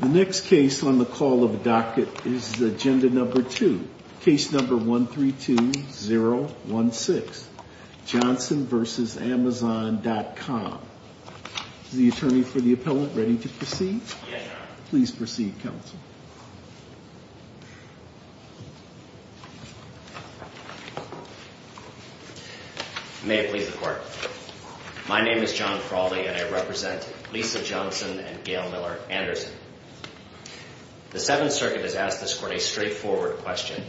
The next case on the call of the docket is the agenda number two, case number 132016, Johnson v. Amazon.com. The attorney for the appellant ready to proceed? Please proceed counsel. May it please the court. My name is John Frawley, and I represent Lisa Johnson and Gail Miller Anderson. The Seventh Circuit has asked this court a straightforward question.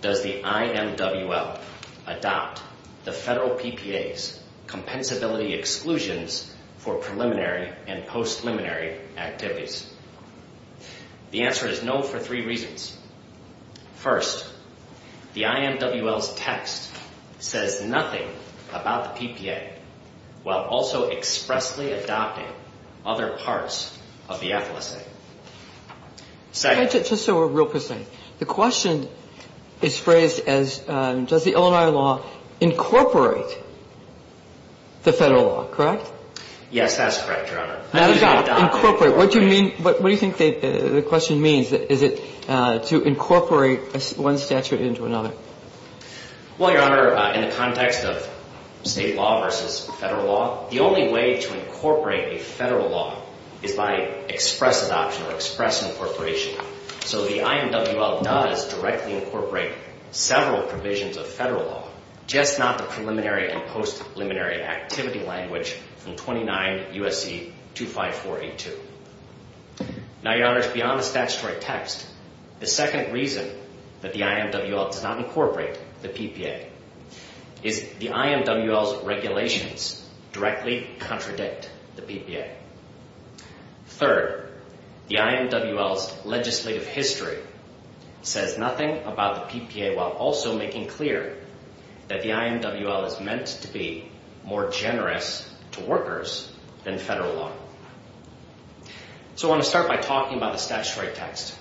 Does the IMWL adopt the federal PPA's compensability exclusions for preliminary and post-preliminary activities? The answer is no for three reasons. First, the IMWL's text says nothing about the PPA, while also expressly adopting other parts of the FLSA. Second... Can I just say one real quick thing? The question is phrased as, does the Illinois law incorporate the federal law, correct? Yes, that's correct, Your Honor. Incorporate. What do you mean? What do you think the question means? Is it to incorporate one statute into another? Well, Your Honor, in the context of State law versus Federal law, the only way to incorporate a Federal law is by express adoption or express incorporation. So the IMWL does directly incorporate several provisions of Federal law, just not the preliminary and post-preliminary activity language from 29 U.S.C. 25482. Now Your Honor, beyond the statutory text, the second reason that the IMWL does not incorporate the PPA is the IMWL's regulations directly contradict the PPA. Third, the IMWL's legislative history says nothing about the PPA, while also making clear that the IMWL is meant to be more generous to workers than Federal law. So I want to start by talking about the statutory text.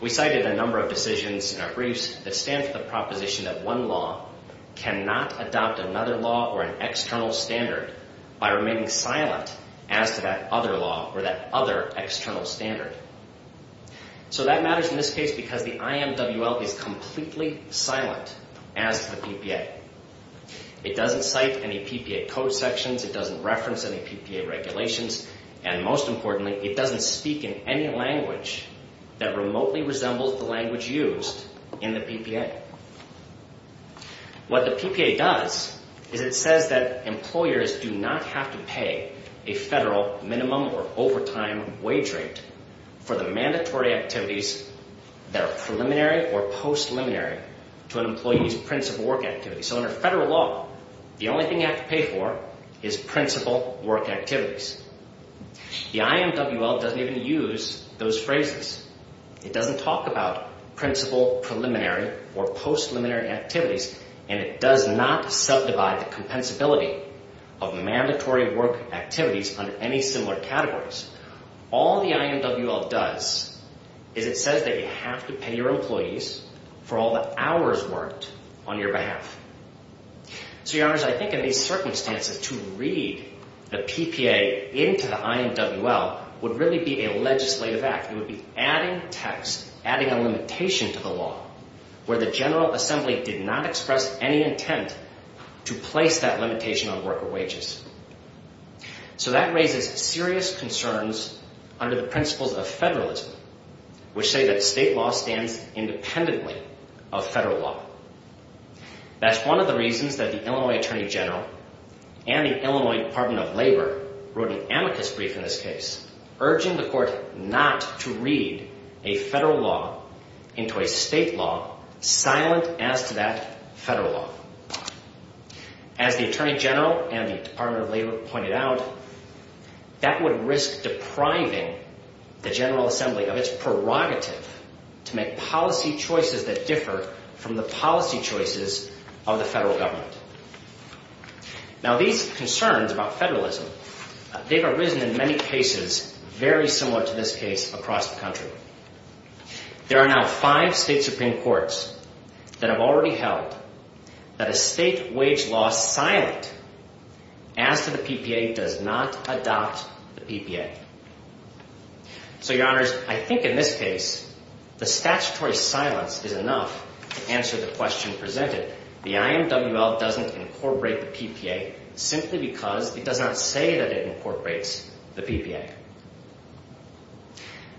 We cited a number of decisions in our briefs that stand for the proposition that one law cannot adopt another law or an external standard by remaining silent as to that other law or that other external standard. So that matters in this case because the IMWL is completely silent as to the PPA. It doesn't cite any PPA code sections, it doesn't reference any PPA regulations, and most importantly, it doesn't speak in any language that remotely resembles the language used in the PPA. What the PPA does is it says that employers do not have to pay a Federal minimum or overtime wage rate for the mandatory activities that are preliminary or post-liminary to an employee's principal work activity. So under Federal law, the only thing you have to pay for is principal work activities. The IMWL doesn't even use those phrases. It doesn't talk about principal, preliminary, or post-liminary activities, and it does not subdivide the compensability of mandatory work activities under any similar categories. All the IMWL does is it says that you have to pay your employees for all the hours worked on your behalf. So, Your Honors, I think in these circumstances, to read the PPA into the IMWL would really be a legislative act. It would be adding text, adding a limitation to the law where the General Department of Labor has a limitation on worker wages. So that raises serious concerns under the principles of Federalism, which say that state law stands independently of Federal law. That's one of the reasons that the Illinois Attorney General and the Illinois Department of Labor wrote an amicus brief in this case, urging the Court not to read a Federal law into a state law silent as to that Federal law. As the Attorney General and the Department of Labor pointed out, that would risk depriving the General Assembly of its prerogative to make policy choices that differ from the policy choices of the Federal Government. Now these concerns about Federalism, they've arisen in many cases very similar to this case across the country. There are now five state Supreme Courts that have already held that a state wage law silent as to the PPA does not adopt the PPA. So, Your Honors, I think in this case, the statutory silence is enough to answer the question presented. The IMWL doesn't incorporate the PPA simply because it does not say that it incorporates the PPA.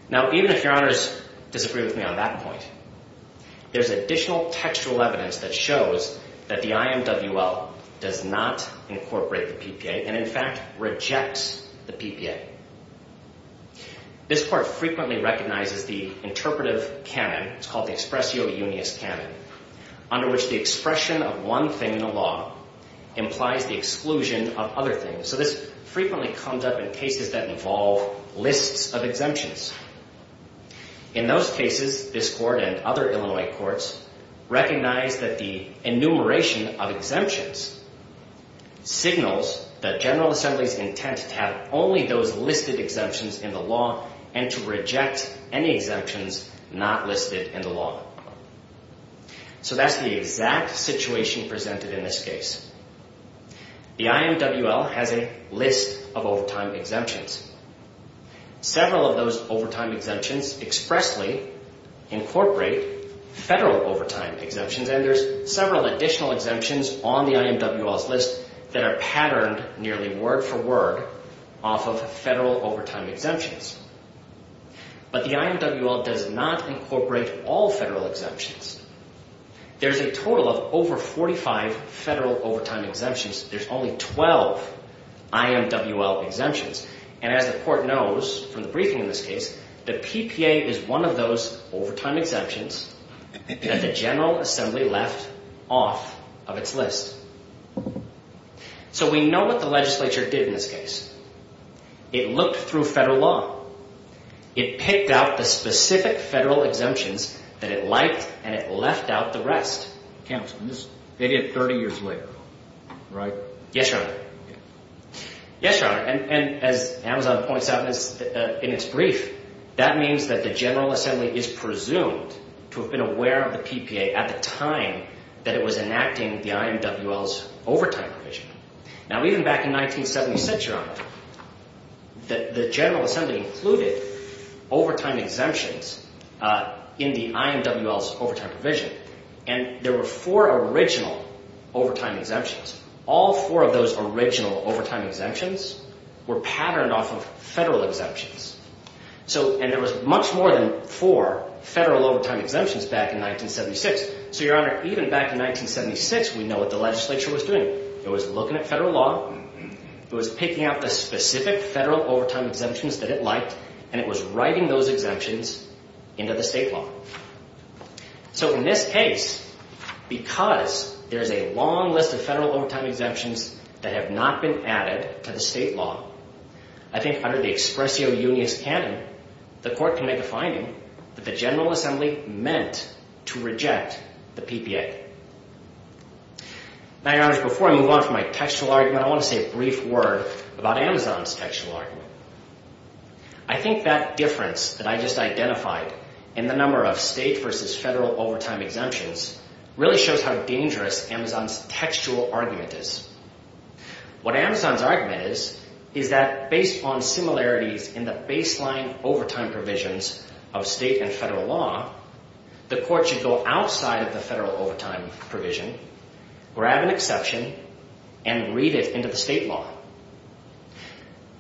Now, even if Your Honors disagree with me on that point, there's additional textual evidence that shows that the IMWL does not incorporate the PPA and in fact rejects the PPA. This Court frequently recognizes the interpretive canon, it's called the expressio unius canon, under which the expression of one thing in the law implies the exclusion of other things. So this frequently comes up in cases that involve lists of exemptions. In those cases, this Court and other Illinois Courts recognize that the enumeration of exemptions signals that General Assembly's intent to have only those listed exemptions in the law and to reject any exemptions not listed in the law. So that's the exact situation presented in this case. The IMWL has a list of overtime exemptions. Several of those overtime exemptions expressly incorporate federal overtime exemptions and there's several additional exemptions on the IMWL's list that are patterned nearly word for word off of federal overtime exemptions. But the IMWL does not incorporate all federal exemptions. There's a total of over 45 federal overtime exemptions. There's only 12 IMWL exemptions and as the Court knows from the briefing in this case, the PPA is one of those overtime exemptions that the General Assembly left off of its list. So we know what the legislature did in this case. It looked through federal law. It picked out the specific federal exemptions that it liked and it left out the rest. Counsel, they did it 30 years later, right? Yes, Your Honor. Yes, Your Honor. And as Amazon points out in its brief, that means that the General Assembly is presumed to have been aware of the PPA at the time that it was enacting the IMWL's overtime provision. Now even back in 1976, Your Honor, the General Assembly included overtime exemptions in the IMWL's overtime provision and there were four original overtime exemptions. All four of those original overtime exemptions were patterned off of federal exemptions. So, and there was much more than four federal overtime exemptions back in 1976. So, Your Honor, even back in 1976, we know what the legislature was doing. It was looking at federal law. It was picking out the specific federal overtime exemptions that it liked and it was writing those exemptions into the state law. So in this case, because there is a long list of federal overtime exemptions that have not been added to the state law, I think under the expressio unius canon, the Court can make a finding that the General Assembly was reluctant to reject the PPA. Now Your Honor, before I move on from my textual argument, I want to say a brief word about Amazon's textual argument. I think that difference that I just identified in the number of state versus federal overtime exemptions really shows how dangerous Amazon's textual argument is. What Amazon's argument is, is that based on similarities in the baseline overtime provisions of state and federal law, the Court should go outside of the federal overtime provision, grab an exception, and read it into the state law.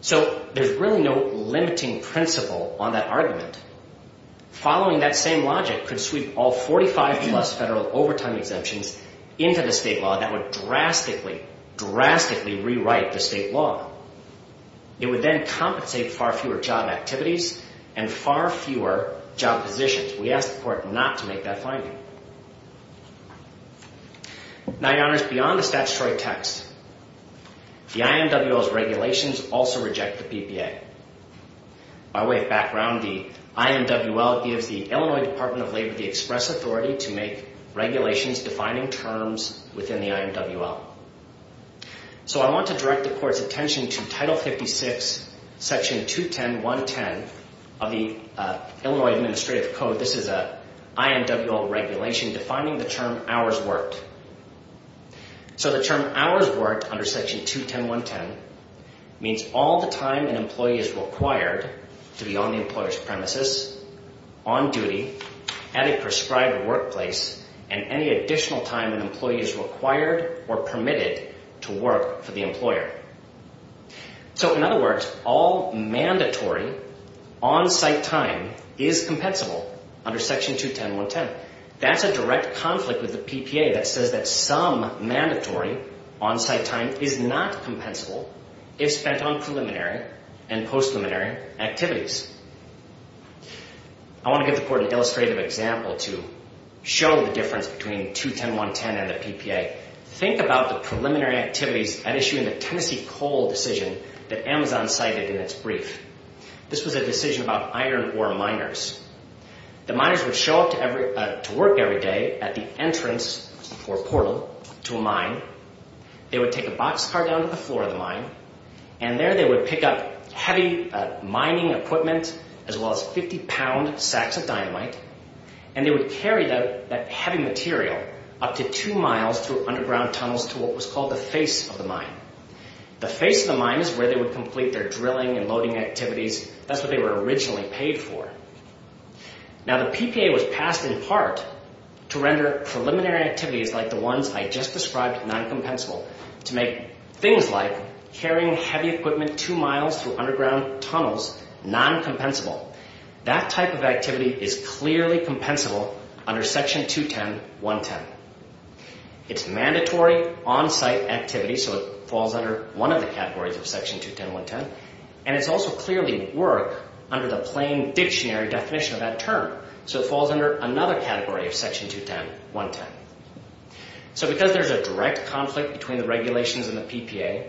So there's really no limiting principle on that argument. Following that same logic could sweep all 45 plus federal overtime exemptions into the state law. That would drastically, drastically rewrite the state law. It would then compensate far fewer job activities and far fewer job positions. We ask the Court not to make that finding. Now Your Honor, beyond the statutory text, the IMWL's regulations also reject the PPA. By way of background, the IMWL gives the Illinois Department of Labor the express authority to make regulations defining terms within the IMWL. So I want to direct the Court's attention to Title 56, Section 210.1.10 of the Illinois Administrative Code. This is an IMWL regulation defining the term hours worked. So the term hours worked under Section 210.1.10 means all the time an employee is required to be on the employer's premises, on duty, at a prescribed workplace, and any additional time an employee is required or permitted to work for the employer. So in other words, all mandatory on-site time is compensable under Section 210.1.10. That's a direct conflict with the PPA that says that some mandatory on-site time is not compensable if spent on preliminary and post-preliminary activities. I want to give the Court an illustrative example to show the difference between 210.1.10 and the PPA. Think about the preliminary activities at issue in the Tennessee Coal decision that Amazon cited in its brief. This was a decision about iron ore miners. The miners would show up to work every day at the entrance or portal to a mine. They would take a boxcar down to the floor of the mine, and there they would pick up heavy mining equipment as well as 50-pound sacks of dynamite, and they would carry that heavy material up to two miles through underground tunnels to what was called the face of the mine. The face of the mine is where they would complete their drilling and loading activities. That's what they were originally paid for. Now the PPA was passed in part to render preliminary activities like the ones I just described non-compensable to make things like carrying heavy equipment two miles through underground tunnels non-compensable. That type of activity is clearly compensable under Section 210.1.10. It's mandatory on-site activity, so it falls under one of the categories of Section 210.1.10, and it's also clearly work under the plain dictionary definition of that term, so it falls under another category of Section 210.1.10. So because there's a direct conflict between the regulations and the PPA,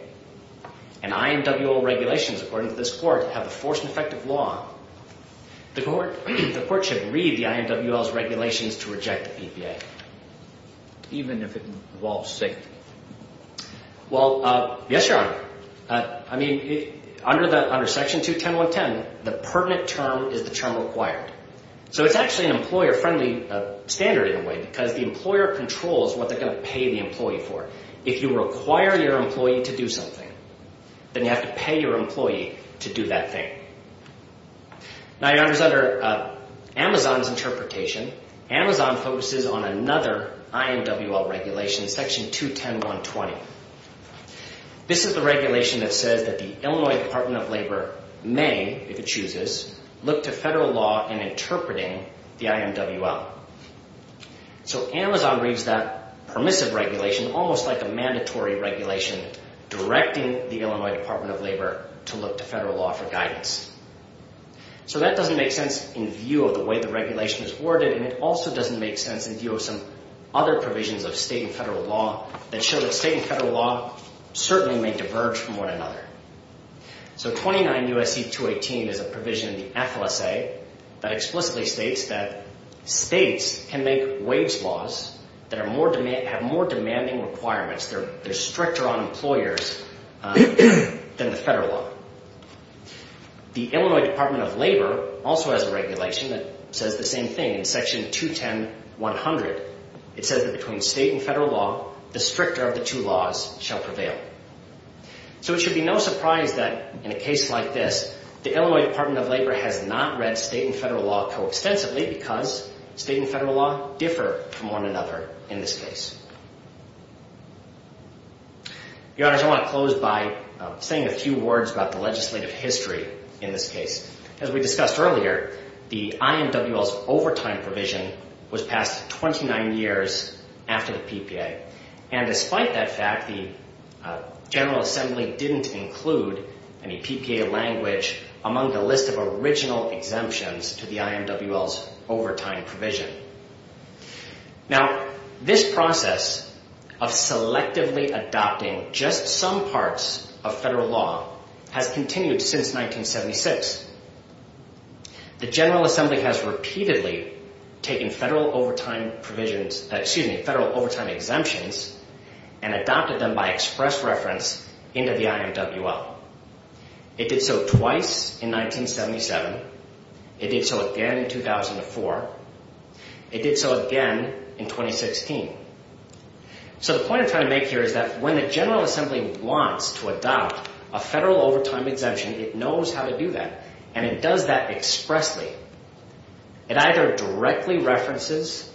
and IMWL regulations, according to this Court, have the force and effect of law, the Court should read the IMWL's regulations to reject the PPA, even if it involves safety. Well, yes, Your Honor. I mean, under Section 210.1.10, the pertinent term is the term required. So it's actually an employer-friendly standard, in a way, because the employer controls what they're going to pay the employee for. If you require your employee to do something, then you have to pay your employee to do that thing. Now, Your Honor, under Amazon's interpretation, Amazon focuses on another IMWL regulation, Section 210.1.20. This is the regulation that says that the Illinois Department of Labor may, if it chooses, look to federal law in interpreting the IMWL. So Amazon reads that permissive regulation almost like a mandatory regulation directing the Illinois Department of Labor to look to federal law for guidance. So that doesn't make sense in view of the way the regulation is worded, and it also doesn't make sense in view of some other provisions of state and federal law that show that state and federal law certainly may diverge from one another. So 29 U.S.C. 218 is a provision in the FLSA that explicitly states that states can make wage laws that have more demanding requirements. They're stricter on employers than the federal law. The Illinois Department of Labor also has a regulation that says the same thing. In Section 210.1.100, it says that between state and federal law, the stricter of the two laws shall prevail. So it should be no surprise that in a case like this, the Illinois Department of Labor has not read state and federal law co-extensively because state and federal law differ from one another in this case. Your Honors, I want to close by saying a few words about the legislative history in this case. As we discussed earlier, the IMWL's overtime provision was passed 29 years after the PPA, and despite that fact, the General Assembly didn't include any PPA language among the list of original exemptions to the IMWL's overtime provision. Now, this process of selectively adopting just some parts of federal law has continued since 1976. The General Assembly has repeatedly taken federal overtime exemptions and adopted them by express reference into the IMWL. It did so twice in 1977. It did so again in 2004. It did so again in 2016. So the point I'm trying to make here is that when the General Assembly wants to adopt a federal overtime exemption, it knows how to do that, and it does that expressly. It either directly references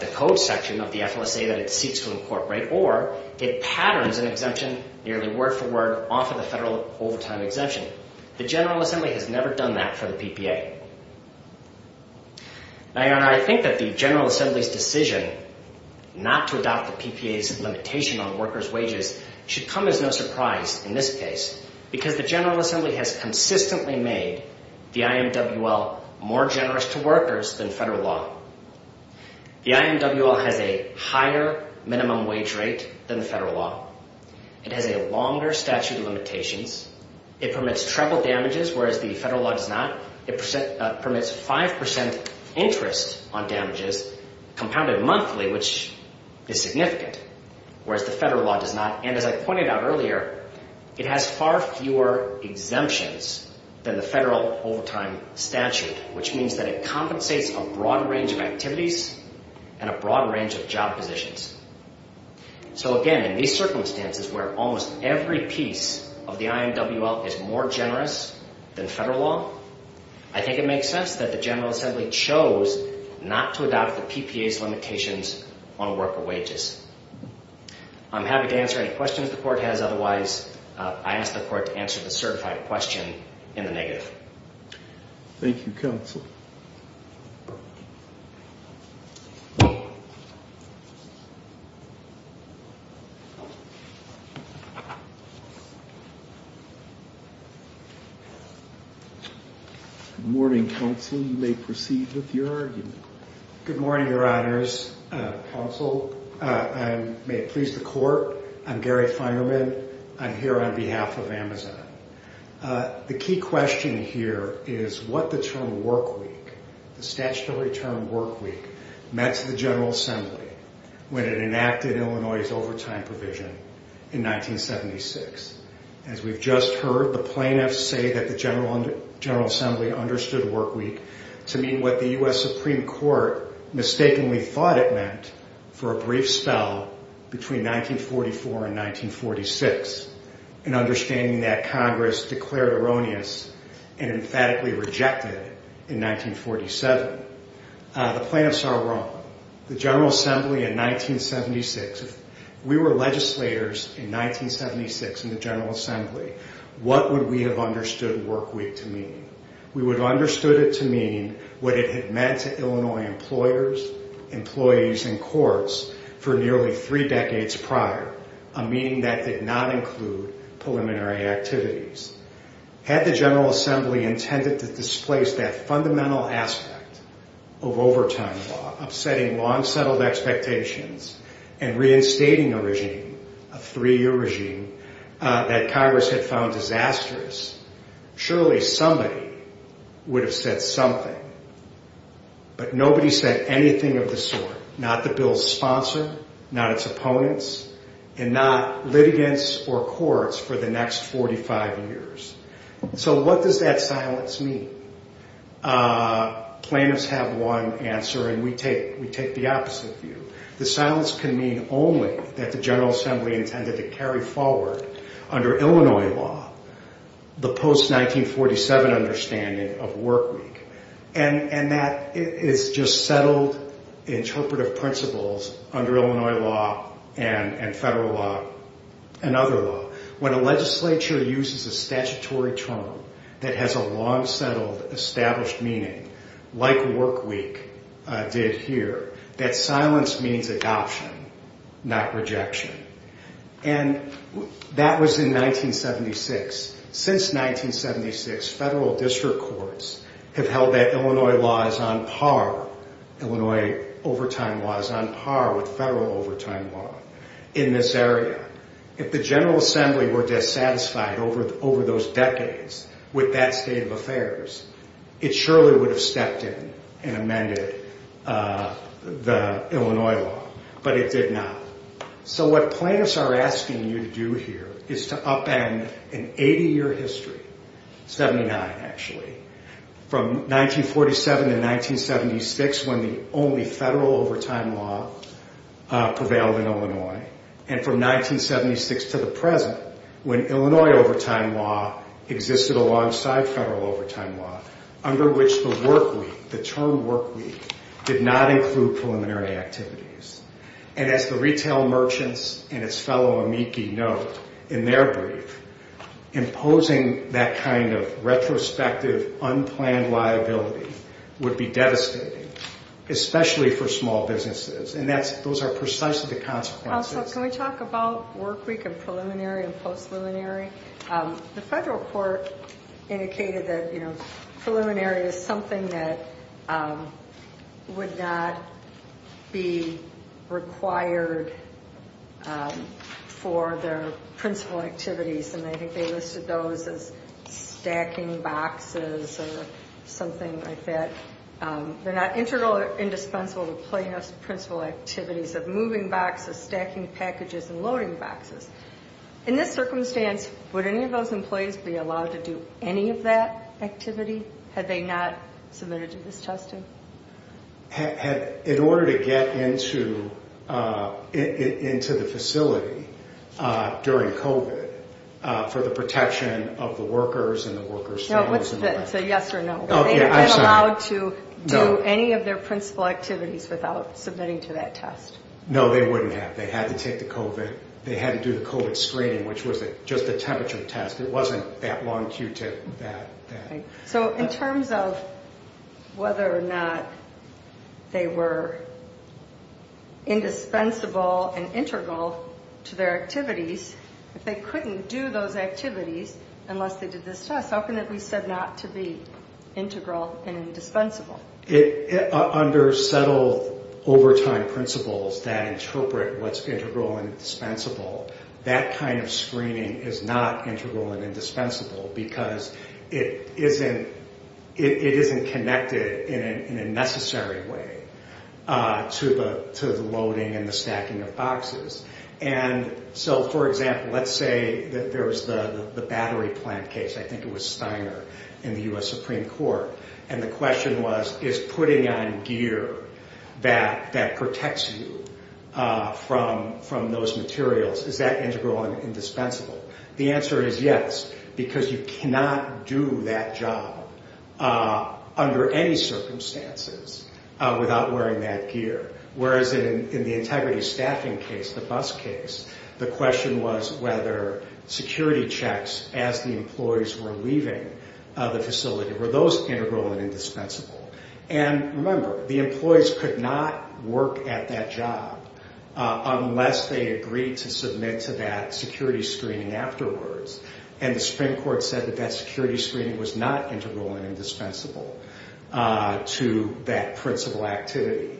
the code section of the FLSA that it seeks to incorporate, or it patterns an exemption nearly word for word off of the federal overtime exemption. The General Assembly has never done that for the PPA. Now, Your Honor, I think that the General Assembly's decision not to adopt the PPA's limitation on workers' wages should come as no surprise in this case, because the General Assembly has consistently made the IMWL more generous to workers than federal law. The IMWL has a higher minimum wage rate than the federal law. It has a longer statute of limitations. It permits treble damages, whereas the federal law does not. It permits 5 percent interest on damages compounded monthly, which is significant, whereas the federal law does not. And as I pointed out earlier, it has far fewer exemptions than the federal overtime statute, which means that it compensates a broad range of activities and a broad range of job positions. So again, in these circumstances where almost every piece of the IMWL is more generous than federal law, I think it makes sense that the General Assembly chose not to adopt the PPA's limitations on worker wages. I'm happy to answer any questions the Court has. Otherwise, I ask the Court to answer the certified question in the negative. Thank you, Counsel. Good morning, Counsel. You may proceed with your argument. Good morning, Your Honors. Counsel, may it please the Court, I'm Gary Feinerman. I'm here on behalf of Amazon. The key question here is what the term work week, the statutory term work week, meant to the General Assembly when it enacted Illinois' overtime provision in 1976. As we've just heard, the plaintiffs say that the General Assembly understood work week to mean what the U.S. Supreme Court mistakenly thought it meant for a brief spell between 1944 and 1946, an understanding that Congress declared erroneous and emphatically rejected in 1947. The plaintiffs are wrong. The General Assembly in 1976, if we were legislating on those years in 1976 in the General Assembly, what would we have understood work week to mean? We would have understood it to mean what it had meant to Illinois employers, employees, and courts for nearly three decades prior, a meaning that did not include preliminary activities. Had the General Assembly intended to displace that fundamental aspect of overtime law, upsetting long-settled expectations and reinstating a regime, a three-year regime that Congress had found disastrous, surely somebody would have said something. But nobody said anything of the sort, not the bill's sponsor, not its opponents, and not litigants or courts for the next 45 years. So what does that silence mean? Plaintiffs have one answer and we take the opposite view. The silence can mean only that the General Assembly intended to carry forward under Illinois law the post-1947 understanding of work week. And that is just settled interpretive principles under Illinois law and federal law and other law. When a legislature uses a statutory term that has a long-settled established meaning, like work week did here, that silence means adoption, not rejection. And that was in 1976. Since 1976, federal district courts have held that Illinois law is on par, Illinois overtime law is on par with federal overtime law in this area. If the General Assembly were dissatisfied over those decades with that state of affairs, it surely would have stepped in and amended the Illinois law, but it did not. So what plaintiffs are asking you to do here is to upend an 80-year history, 79 actually, from 1947 to 1976 when the only federal overtime law prevailed in Illinois, and from 1976 to the present when Illinois overtime law existed alongside federal overtime law, under which the work week, the term work week, did not include preliminary activities. And as the retail merchants and its fellow amici note in their brief, imposing that kind of retrospective, unplanned liability would be devastating, especially for small businesses. And that's, those are precisely the consequences. Counsel, can we talk about work week and preliminary and post-preliminary? The federal court indicated that, you know, preliminary is something that would not be required for their principal activities and I think they listed those as stacking boxes or something like that. They're not integral or indispensable to plaintiff's principal activities of moving boxes, stacking packages and loading boxes. In this circumstance, would any of those employees be allowed to do any of that activity had they not submitted to this testing? In order to get into the facility during COVID for the protection of the workers and the employees, would they be allowed to do any of their principal activities without submitting to that test? No, they wouldn't have. They had to take the COVID, they had to do the COVID screening, which was just a temperature test. It wasn't that long Q-tip. So in terms of whether or not they were indispensable and integral to their activities, if they couldn't do those activities unless they did this test, how can it be said not to be integral and indispensable? Under settled overtime principles that interpret what's integral and dispensable, that kind of screening is not integral and indispensable because it isn't connected in a necessary way to the loading and the stacking of boxes. And so, for example, let's say that there was a case, I think it was Steiner in the U.S. Supreme Court, and the question was, is putting on gear that protects you from those materials, is that integral and indispensable? The answer is yes, because you cannot do that job under any circumstances without wearing that gear. Whereas in the integrity staffing case, the question was whether security checks as the employees were leaving the facility, were those integral and indispensable? And remember, the employees could not work at that job unless they agreed to submit to that security screening afterwards. And the Supreme Court said that that security screening was not integral and indispensable to that principal activity.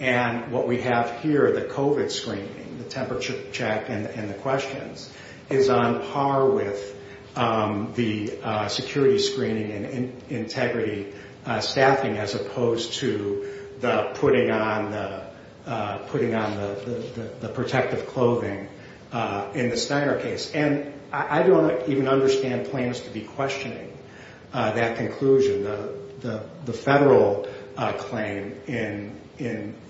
And what we have here, the COVID screening, the temperature check and the questions, is on par with the security screening and integrity staffing as opposed to the putting on the protective clothing in the Steiner case. And I don't even understand claims to be questioning that conclusion. The federal claim in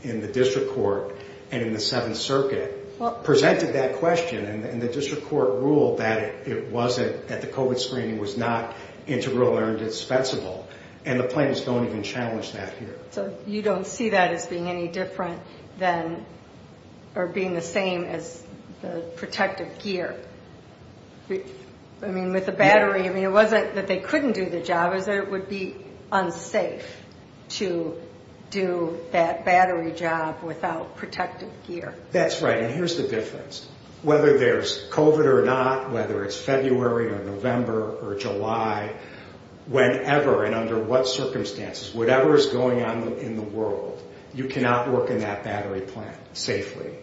the district court and in the 7th Circuit presented that question, and the district court ruled that it wasn't, that the COVID screening was not integral or indispensable. And the plaintiffs don't even challenge that here. So you don't see that as being any different than, or being the same as the protective gear. I mean, with the battery, I mean, it wasn't that they couldn't do the job, it was that it would be unsafe to do that battery job without protective gear. That's right. And here's the difference. Whether there's COVID or not, whether it's February or November or July, whenever and under what circumstances, whatever is going on in the world, you cannot work in that battery plant safely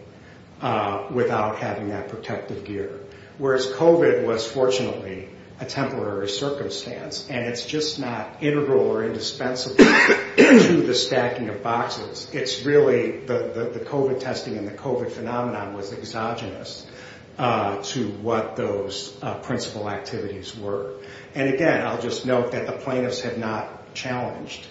without having that protective gear. Whereas COVID was fortunately a temporary circumstance, and it's just not integral or indispensable to the stacking of boxes. It's really the COVID testing and the COVID phenomenon was exogenous to what those principal activities were. And again, I'll just note that the plaintiffs had not challenged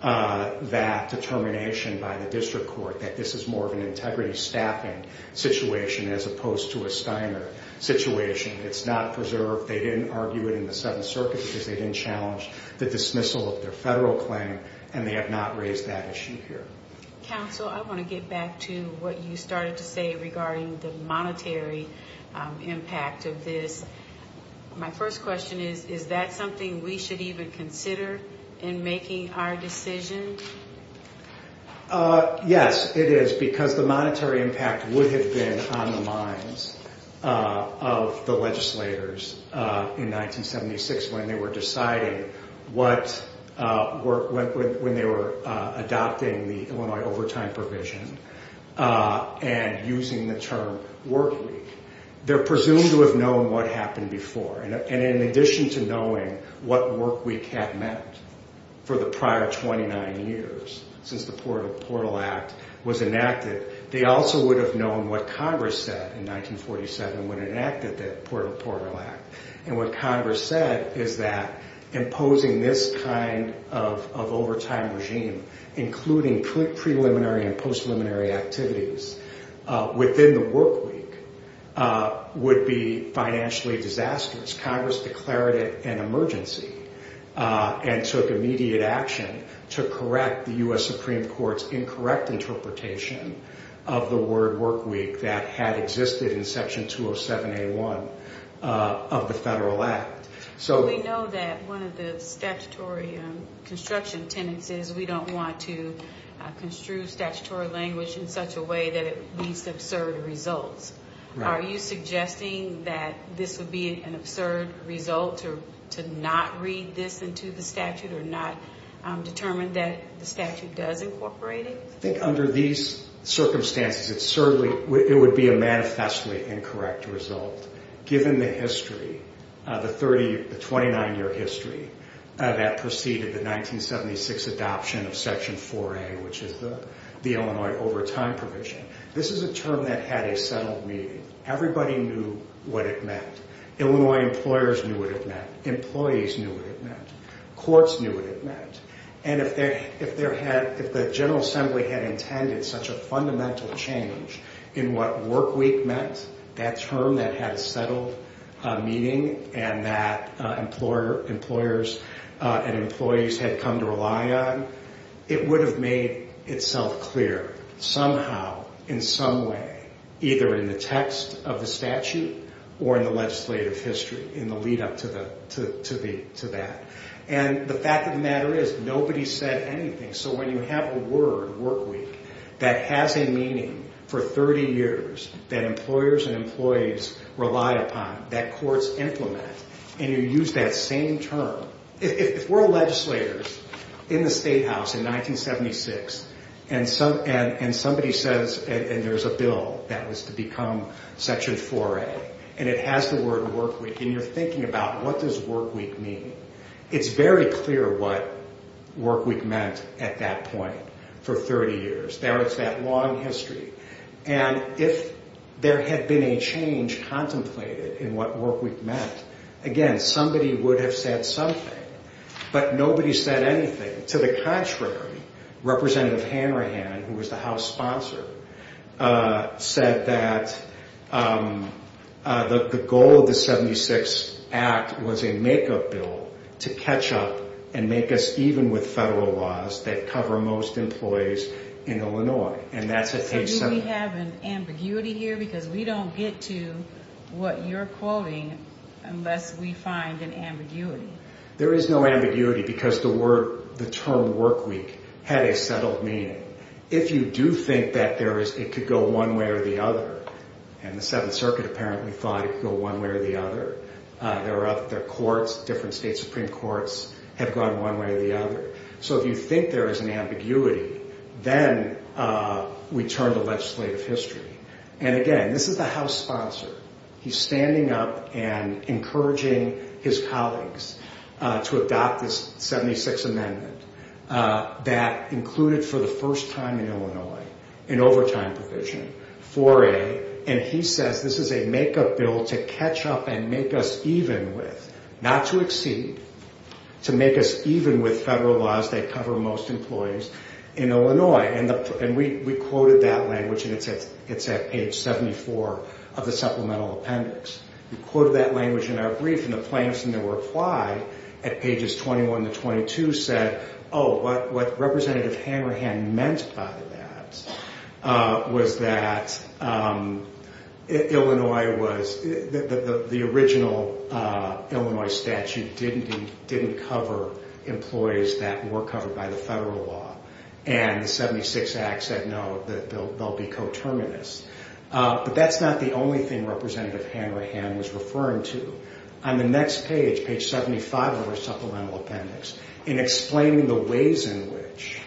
that determination by the district court that this is more of an integrity staffing situation as opposed to a Steiner situation. It's not preserved. They didn't argue it in the 7th Circuit because they didn't challenge the dismissal of their federal claim, and they have not raised that issue here. Counsel, I want to get back to what you started to say regarding the monetary impact of this. My first question is, is that something we should even consider in making our decision? Yes, it is, because the monetary impact would have been on the minds of the legislators in 1976 when they were deciding when they were adopting the Illinois overtime provision and using the term work week. They're presumed to have known what happened before, and in addition to knowing what work week had meant for the prior 29 years since the Portal Act was enacted, they also would have known what Congress said in 1947 when it enacted the Portal Act. And what Congress said is that imposing this kind of overtime regime, including preliminary and post-preliminary activities, within the work week would be financially disastrous. Congress declared it an emergency and took immediate action to correct the U.S. Supreme Court's incorrect interpretation of the word work week that had existed in Section 207A1 of the Federal Act. We know that one of the statutory construction tenets is we don't want to construe statutory language in such a way that it leads to absurd results. Are you suggesting that this would be an absurd result to not read this into the statute or not determine that the statute does incorporate it? I think under these circumstances, it would be a manifestly incorrect result. Given the 29-year history that preceded the 1976 adoption of Section 4A, which is the Illinois overtime provision, this is a term that had a settled meaning. Everybody knew what it meant. Illinois employers knew what it meant. Employees knew what it meant. Courts knew what it meant. And if the General Assembly had intended such a fundamental change in what work week meant, that term that had a settled meaning and that employers and employees had come to rely on, it would have made itself clear somehow, in some way, either in the text of the statute or in the legislative history in the lead up to that. And the fact of the matter is nobody said anything. So when you have a word, work week, that has a meaning for 30 years, that employers and employees relied upon, that courts implement, and you use that same term, if we're legislators in the State House in 1976, and somebody says, and there's a bill that was to become Section 4A, and it has the word work week, and you're thinking about what does work week mean, it's very clear what work week meant at that point for 30 years. There is that long history. And if there had been a change contemplated in what work week meant, again, somebody would have said something. But nobody said anything. To the contrary, Representative Hanrahan, who was the House sponsor, said that the goal of the 76 Act was a makeup bill to catch up and make us even with federal laws that cover most employees in Illinois. And that's a take- Do we have an ambiguity here? Because we don't get to what you're quoting unless we find an ambiguity. There is no ambiguity because the term work week had a settled meaning. If you do think that it could go one way or the other, and the 7th Circuit apparently thought it could go one way or the other, their courts, different state Supreme Courts, have gone one way or the other. So if you think there is an ambiguity, then we turn to legislative history. And again, this is the House sponsor. He's standing up and encouraging his colleagues to adopt this 76 Amendment that included for the first time in Illinois an overtime provision, 4A, and he says this is a makeup bill to catch up and make us even with, not to exceed, to make us even with federal laws that cover most employees in Illinois. And we quoted that language, and it's at page 74 of the supplemental appendix. We quoted that language in our brief and the plaintiffs in their reply at pages 21 to 22 said, oh, what Representative Hammerhand meant by that was that Illinois was, the original Illinois statute didn't cover, didn't cover employees that were covered by the federal law. And the 76 Act said, no, they'll be coterminous. But that's not the only thing Representative Hammerhand was referring to. On the next page, page 75 of our supplemental appendix, in explaining the ways in which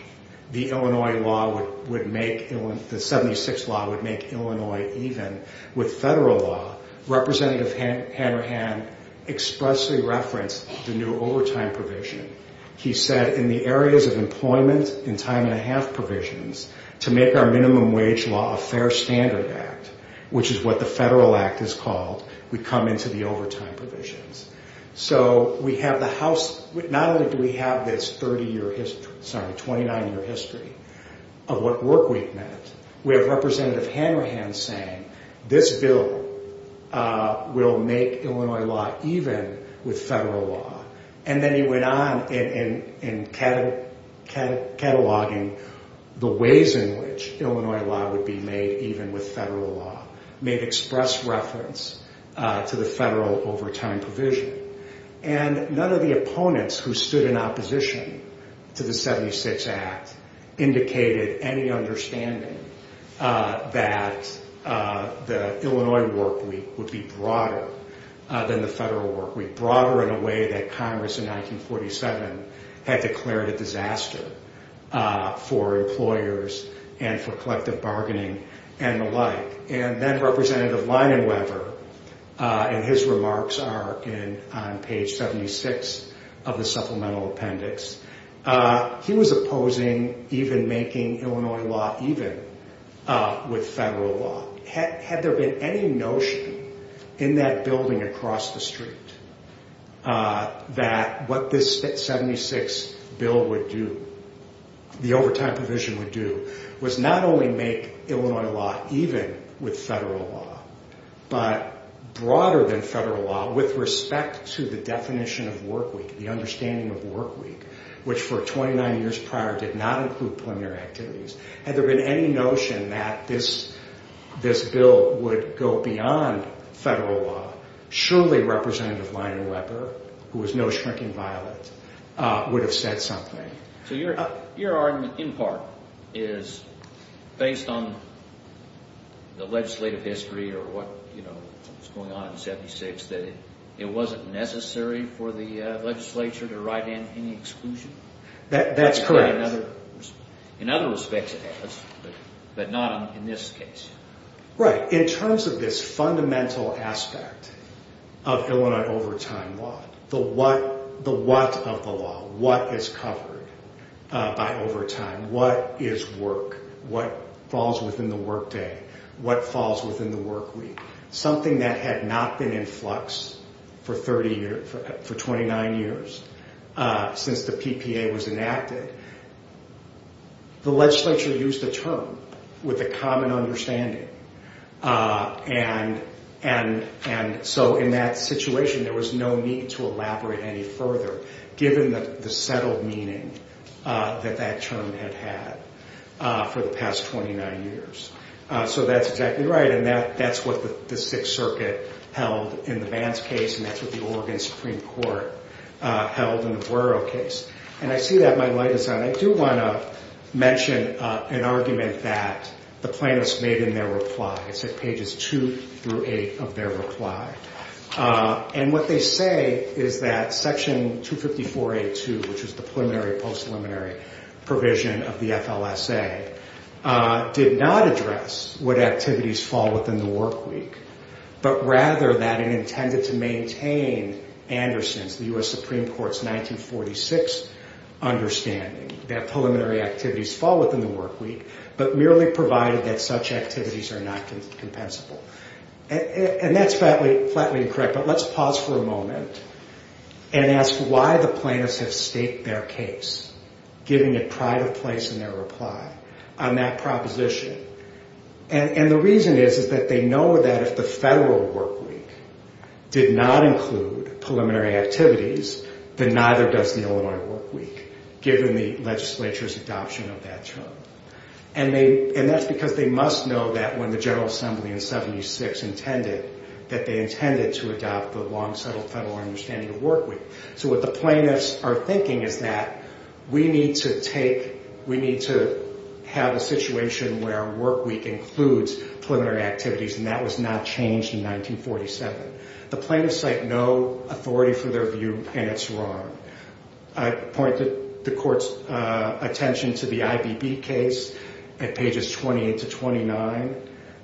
the Illinois law would make Illinois, the 76 law would make Illinois even with federal law, Representative Hammerhand expressly referenced the new overtime provision. He said, in the areas of employment and time and a half provisions, to make our minimum wage law a fair standard act, which is what the federal act is called, we come into the overtime provisions. So we have the House, not only do we have this 30-year history, sorry, 29-year history of what work we've done, we have Representative Hammerhand saying, this bill will make Illinois law even with federal law. And then he went on in cataloging the ways in which Illinois law would be made even with federal law, made express reference to the federal overtime provision. And none of the opponents who stood in opposition to the 76 Act indicated any understanding that the Illinois workweek would be broader than the federal workweek, broader in a way that Congress in 1947 had declared a disaster for employers and for collective bargaining and the like. And then Representative Leinenweber, and his remarks are on page 76 of the supplemental appendix, he was opposing even making Illinois law even with federal law. Had there been any notion in that building across the street that what this 76 bill would do, the overtime provision would do, was not only make Illinois law even with federal law, but broader than federal law with respect to the definition of workweek, the understanding of workweek, which for 29 years prior did not include preliminary activities. Had there been any notion that this bill would go beyond federal law, surely Representative Leinenweber, who was no shrinking violet, would have said something. So your argument, in part, is based on the legislative history or what was going on in 76 that it wasn't necessary for the legislature to write in any exclusion? That's correct. In other respects it has, but not in this case. Right. In terms of this fundamental aspect of Illinois overtime law, the what of the law, what is covered by overtime, what is work, what falls within the workday, what falls within the workweek, something that had not been in flux for 29 years since the PPA was enacted, the PPA was enacted. And so in that situation there was no need to elaborate any further given the settled meaning that that term had had for the past 29 years. So that's exactly right and that's what the Sixth Circuit held in the Vance case and that's what the Oregon Supreme Court held in the Buero case. And I see that my light is on. I do want to mention an argument that the plaintiffs made in their reply. It's at pages 2-8 of their reply. And what they say is that section 254A-2, which is the preliminary post-preliminary provision of the FLSA, did not address would activities fall within the workweek, but rather that it intended to maintain Anderson's, the U.S. Supreme Court's 1946 understanding that preliminary activities fall within the workweek, but merely provided that such activities are not compensable. And that's flatly incorrect, but let's pause for a moment and ask why the plaintiffs have staked their case, giving it pride of place in their reply, on that proposition. And the reason is that they know that if the federal workweek did not include preliminary activities, then neither does the Illinois workweek, given the legislature's adoption of that term. And that's because they must know that when the General Assembly in 76 intended, that they intended to adopt the long-settled federal understanding of workweek. So what the plaintiffs are thinking is that we need to take, we need to have a situation where workweek includes preliminary activities and that was not changed in 1947. The plaintiffs cite no authority for their view, and it's wrong. I point the court's attention to the IBB case at pages 28 to 29,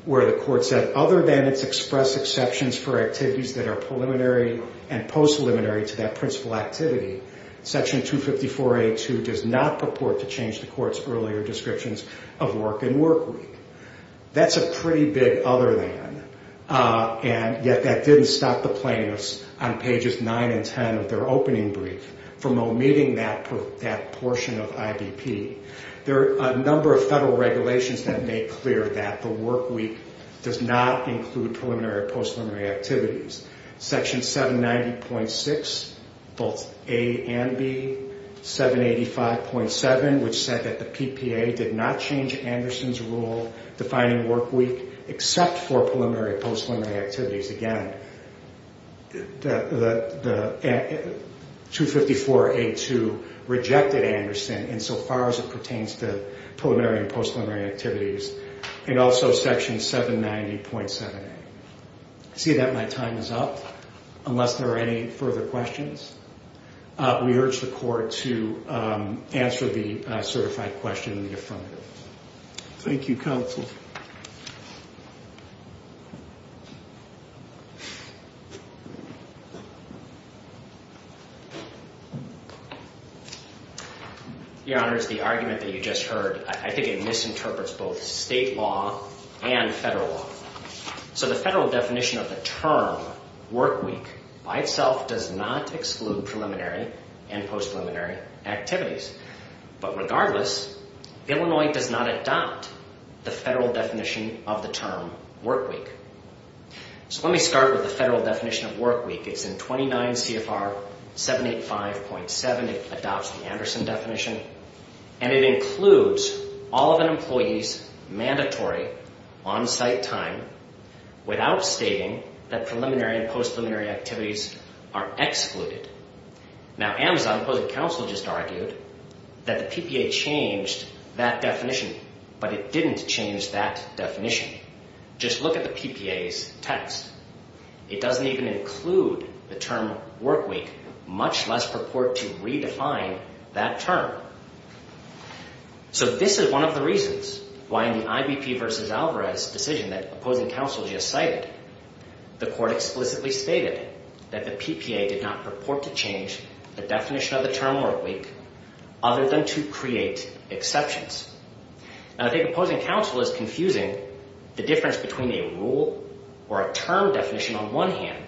where the court said, other than its express exceptions for activities that are preliminary and post-preliminary to that principal activity, section 254A2 does not purport to change the court's earlier descriptions of work and workweek. That's a pretty big other than, and yet that didn't stop the plaintiffs on pages 9 and 10 of their opening brief from omitting that portion of IBP. There are a number of federal regulations that make clear that the workweek does not include preliminary or post-preliminary activities. Section 790.6, both A and B, 785.7, which said that the PPA did not change Anderson's rule defining workweek except for preliminary and post-preliminary activities. Again, 254A2 rejected Anderson insofar as it pertains to preliminary and post-preliminary activities, and also section 790.7A. I see that my time is up, unless there are any further questions. We urge the court to answer the certified question in the affirmative. Thank you, counsel. Your Honor, it's the argument that you just heard. I think it misinterprets both state law and federal law. So the federal definition of workweek does not include preliminary and post-preliminary activities. But regardless, Illinois does not adopt the federal definition of the term workweek. So let me start with the federal definition of workweek. It's in 29 CFR 785.7. It adopts the Anderson definition, and it includes all of an employee's mandatory on-site time without stating that preliminary and post-preliminary activities are excluded. Now, Amazon, opposing counsel, just argued that the PPA changed that definition, but it didn't change that definition. Just look at the PPA's text. It doesn't even include the term workweek, much less purport to redefine that term. So this is one of the reasons why in the IBP v. Alvarez decision that opposing counsel explicitly stated that the PPA did not purport to change the definition of the term workweek other than to create exceptions. Now, I think opposing counsel is confusing the difference between a rule or a term definition on one hand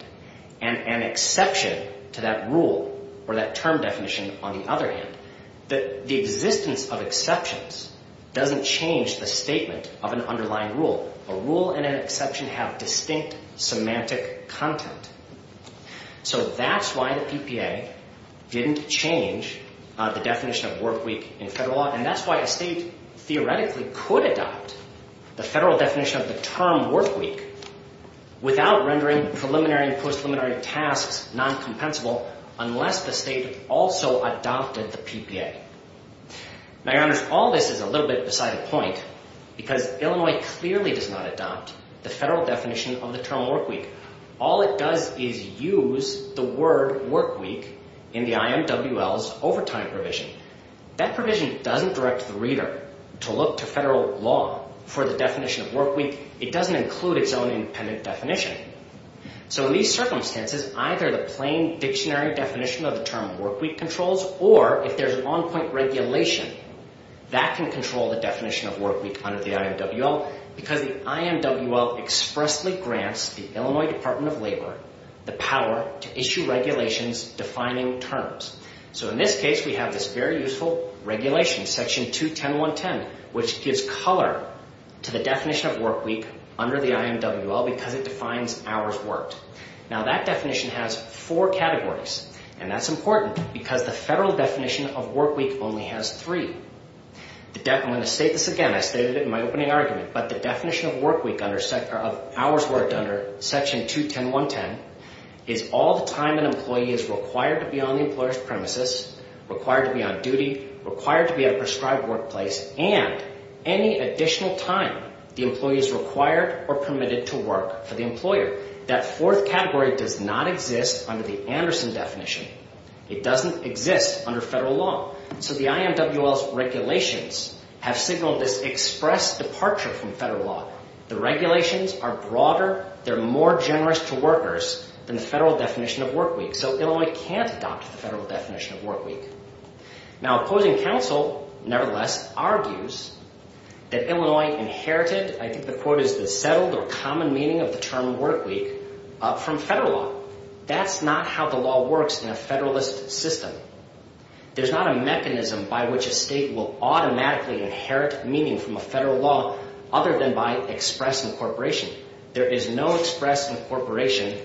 and an exception to that rule or that term definition on the other hand. The existence of exceptions doesn't change the statement of an underlying rule. A rule and an exception have distinct semantic content. So that's why the PPA didn't change the definition of workweek in federal law, and that's why a state theoretically could adopt the federal definition of the term workweek without rendering preliminary and post-preliminary tasks noncompensable unless the state also adopted the PPA. Now, because Illinois clearly does not adopt the federal definition of the term workweek, all it does is use the word workweek in the IMWL's overtime provision. That provision doesn't direct the reader to look to federal law for the definition of workweek. It doesn't include its own independent definition. So in these circumstances, either the plain dictionary definition of the term workweek controls or if there's an on-point regulation, that can control the definition of workweek under the IMWL because the IMWL expressly grants the Illinois Department of Labor the power to issue regulations defining terms. So in this case, we have this very useful regulation, Section 210.110, which gives color to the definition of workweek under the IMWL because it defines hours worked. Now, that definition has four categories, and that's important because the federal definition of workweek only has three. I'm going to say this again. I stated it in my opening argument, but the definition of workweek under Section 210.110 is all the time an employee is required to be on the employer's premises, required to be on duty, required to be at a prescribed workplace, and any additional time the employee is required or permitted to work for the employer. That fourth category does not exist under the Anderson definition. It doesn't exist under federal law. So the IMWL's regulations have signaled this express departure from federal law. The regulations are broader. They're more generous to workers than the federal definition of workweek. So Illinois can't adopt the federal definition of workweek. Now opposing counsel, nevertheless, argues that Illinois inherited, I think the quote is the settled or common meaning of the term workweek, from federal law. That's not how the law works in a federalist system. There's not a mechanism by which a state will automatically inherit meaning from a federal law other than by express incorporation. There is no express incorporation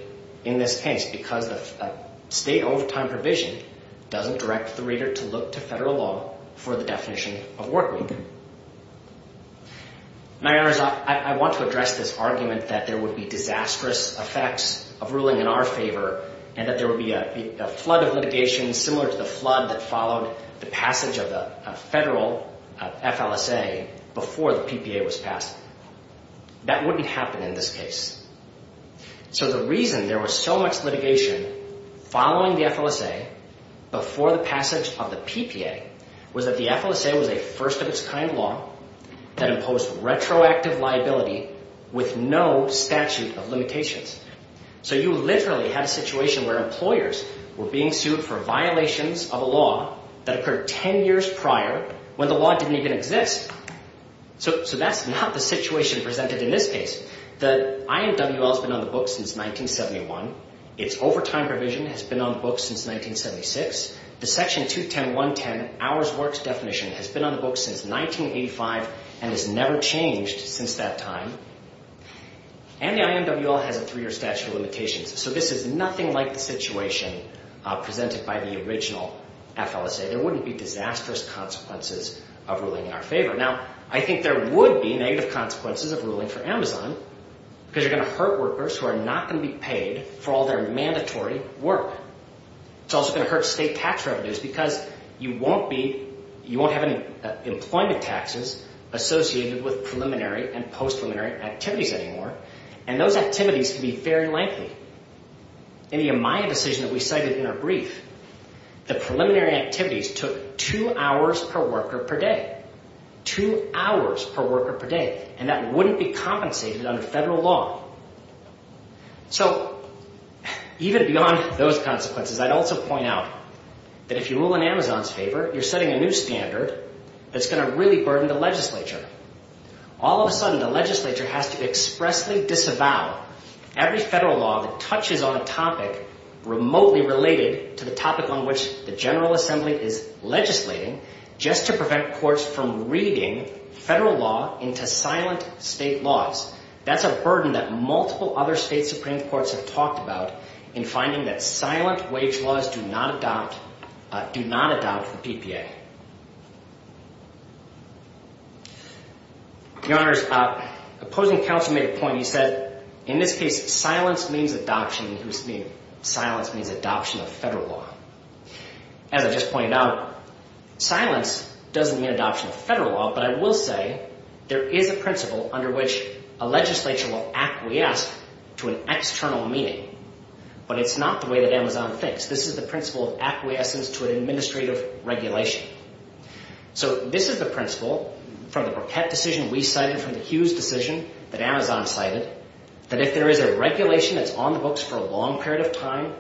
in this case because the state overtime provision doesn't direct the reader to look to federal law for the definition of workweek. My honors, I want to address this argument that there would be disastrous effects of ruling in our favor, and that there would be a flood of litigation similar to the flood that followed the passage of the federal FLSA before the PPA was passed. That wouldn't happen in this case. So the reason there was so much litigation following the FLSA before the passage of the PPA was that the FLSA was a first-of-its-kind law that imposed retroactive liability with no statute of limitations. So you literally had a situation where employers were being sued for violations of a law that occurred ten years prior when the law didn't even exist. So that's not the situation presented in this case. The IMWL has been on the books since 1971. Its overtime provision has been on the books since 1976. The section 210.110, hours worked definition, has been on the books since 1985 and has never changed since that time. And the IMWL has a three-year statute of limitations. So this is nothing like the situation presented by the original FLSA. There wouldn't be disastrous consequences of ruling in our favor. Now, I think there would be negative consequences of ruling for Amazon because you're going to hurt workers who are not going to be paid for all their mandatory work. It's also going to hurt state tax revenues because you won't have any employment taxes associated with preliminary and post-preliminary activities anymore. And those activities can be very lengthy. In the Amaya decision that we cited in our brief, the preliminary activities took two hours per worker per day. Two hours per worker per day. And that wouldn't be compensated under federal law. So, even beyond those consequences, I'd also point out that if you rule in Amazon's favor, you're setting a new standard that's going to really burden the legislature. All of a sudden, the legislature has to expressly disavow every federal law that touches on a topic remotely related to the topic on which the General Assembly is legislating just to prevent courts from reading federal law into silent state laws. That's a burden that multiple other state Supreme Courts have talked about in finding that silent wage laws do not adopt the PPA. Your Honors, opposing counsel made a point. He said, in this case, silence means adoption of federal law. As I just pointed out, silence doesn't mean adoption of federal law, but I will say there is a principle under which a legislature will acquiesce to an external meaning, but it's not the way that Amazon thinks. This is the principle of acquiescence to an administrative regulation. So, this is the principle from the Burkett decision we cited, from the Hughes decision that Amazon cited, that if there is a regulation that's on the books for a long period of time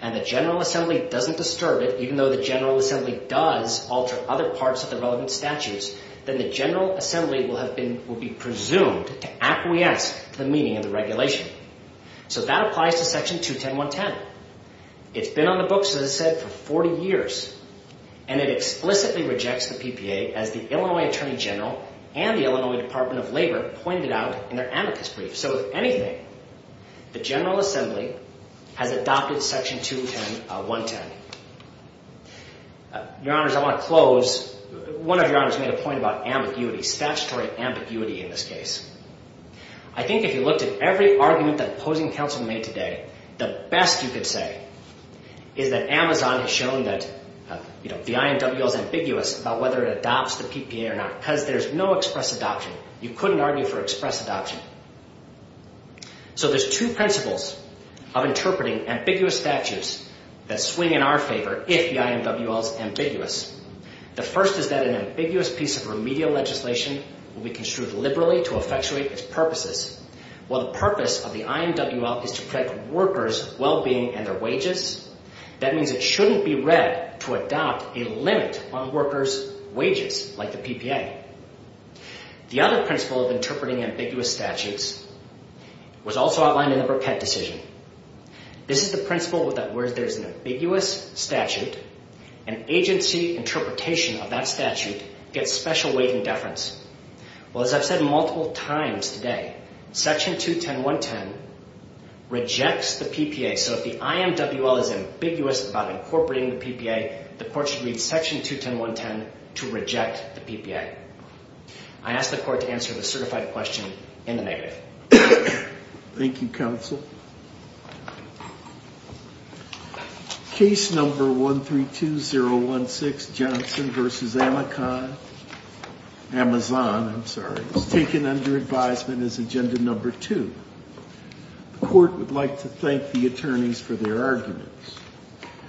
and the General Assembly doesn't disturb it, even though the General Assembly does alter other parts of the relevant statutes, then the General Assembly will be presumed to acquiesce to the meaning of the regulation. So, that applies to Section 210.1.10. It's been on the books, as I said, for 40 years, and it explicitly rejects the PPA as the Illinois Attorney General and the Illinois Department of Labor pointed out in their amicus brief. So, if anything, the General Assembly has adopted Section 210.1.10. Your Honors, I want to close. One of your Honors made a point about ambiguity, statutory ambiguity in this case. I think if you looked at every argument that opposing counsel made today, the best you could say is that Amazon has shown that the IMWL is ambiguous about whether it adopts the PPA or not, because there's no express adoption. You couldn't argue for express adoption. So, there's two principles of interpreting ambiguous statutes that swing in our favor if the IMWL is ambiguous. The first is that an ambiguous piece of remedial legislation will be construed liberally to effectuate its purposes. While the purpose of the IMWL is to protect workers' well-being and their wages, that means it shouldn't be read to adopt a limit on workers' wages like the PPA. The other principle of interpreting ambiguous statutes was also outlined in the Burkett decision. This is the principle that where there's an ambiguous statute, an agency interpretation of that statute gets special weight and deference. Well, as I've said multiple times today, Section 210.1.10 rejects the PPA. So, if the IMWL is ambiguous about incorporating the PPA, the court should read Section 210.1.10 to reject the PPA. I ask the court to answer the certified question in the negative. Thank you, counsel. Case number 132016, Johnson v. Amazon, is taken under advisement as agenda number two. The court would like to thank the attorneys for their arguments.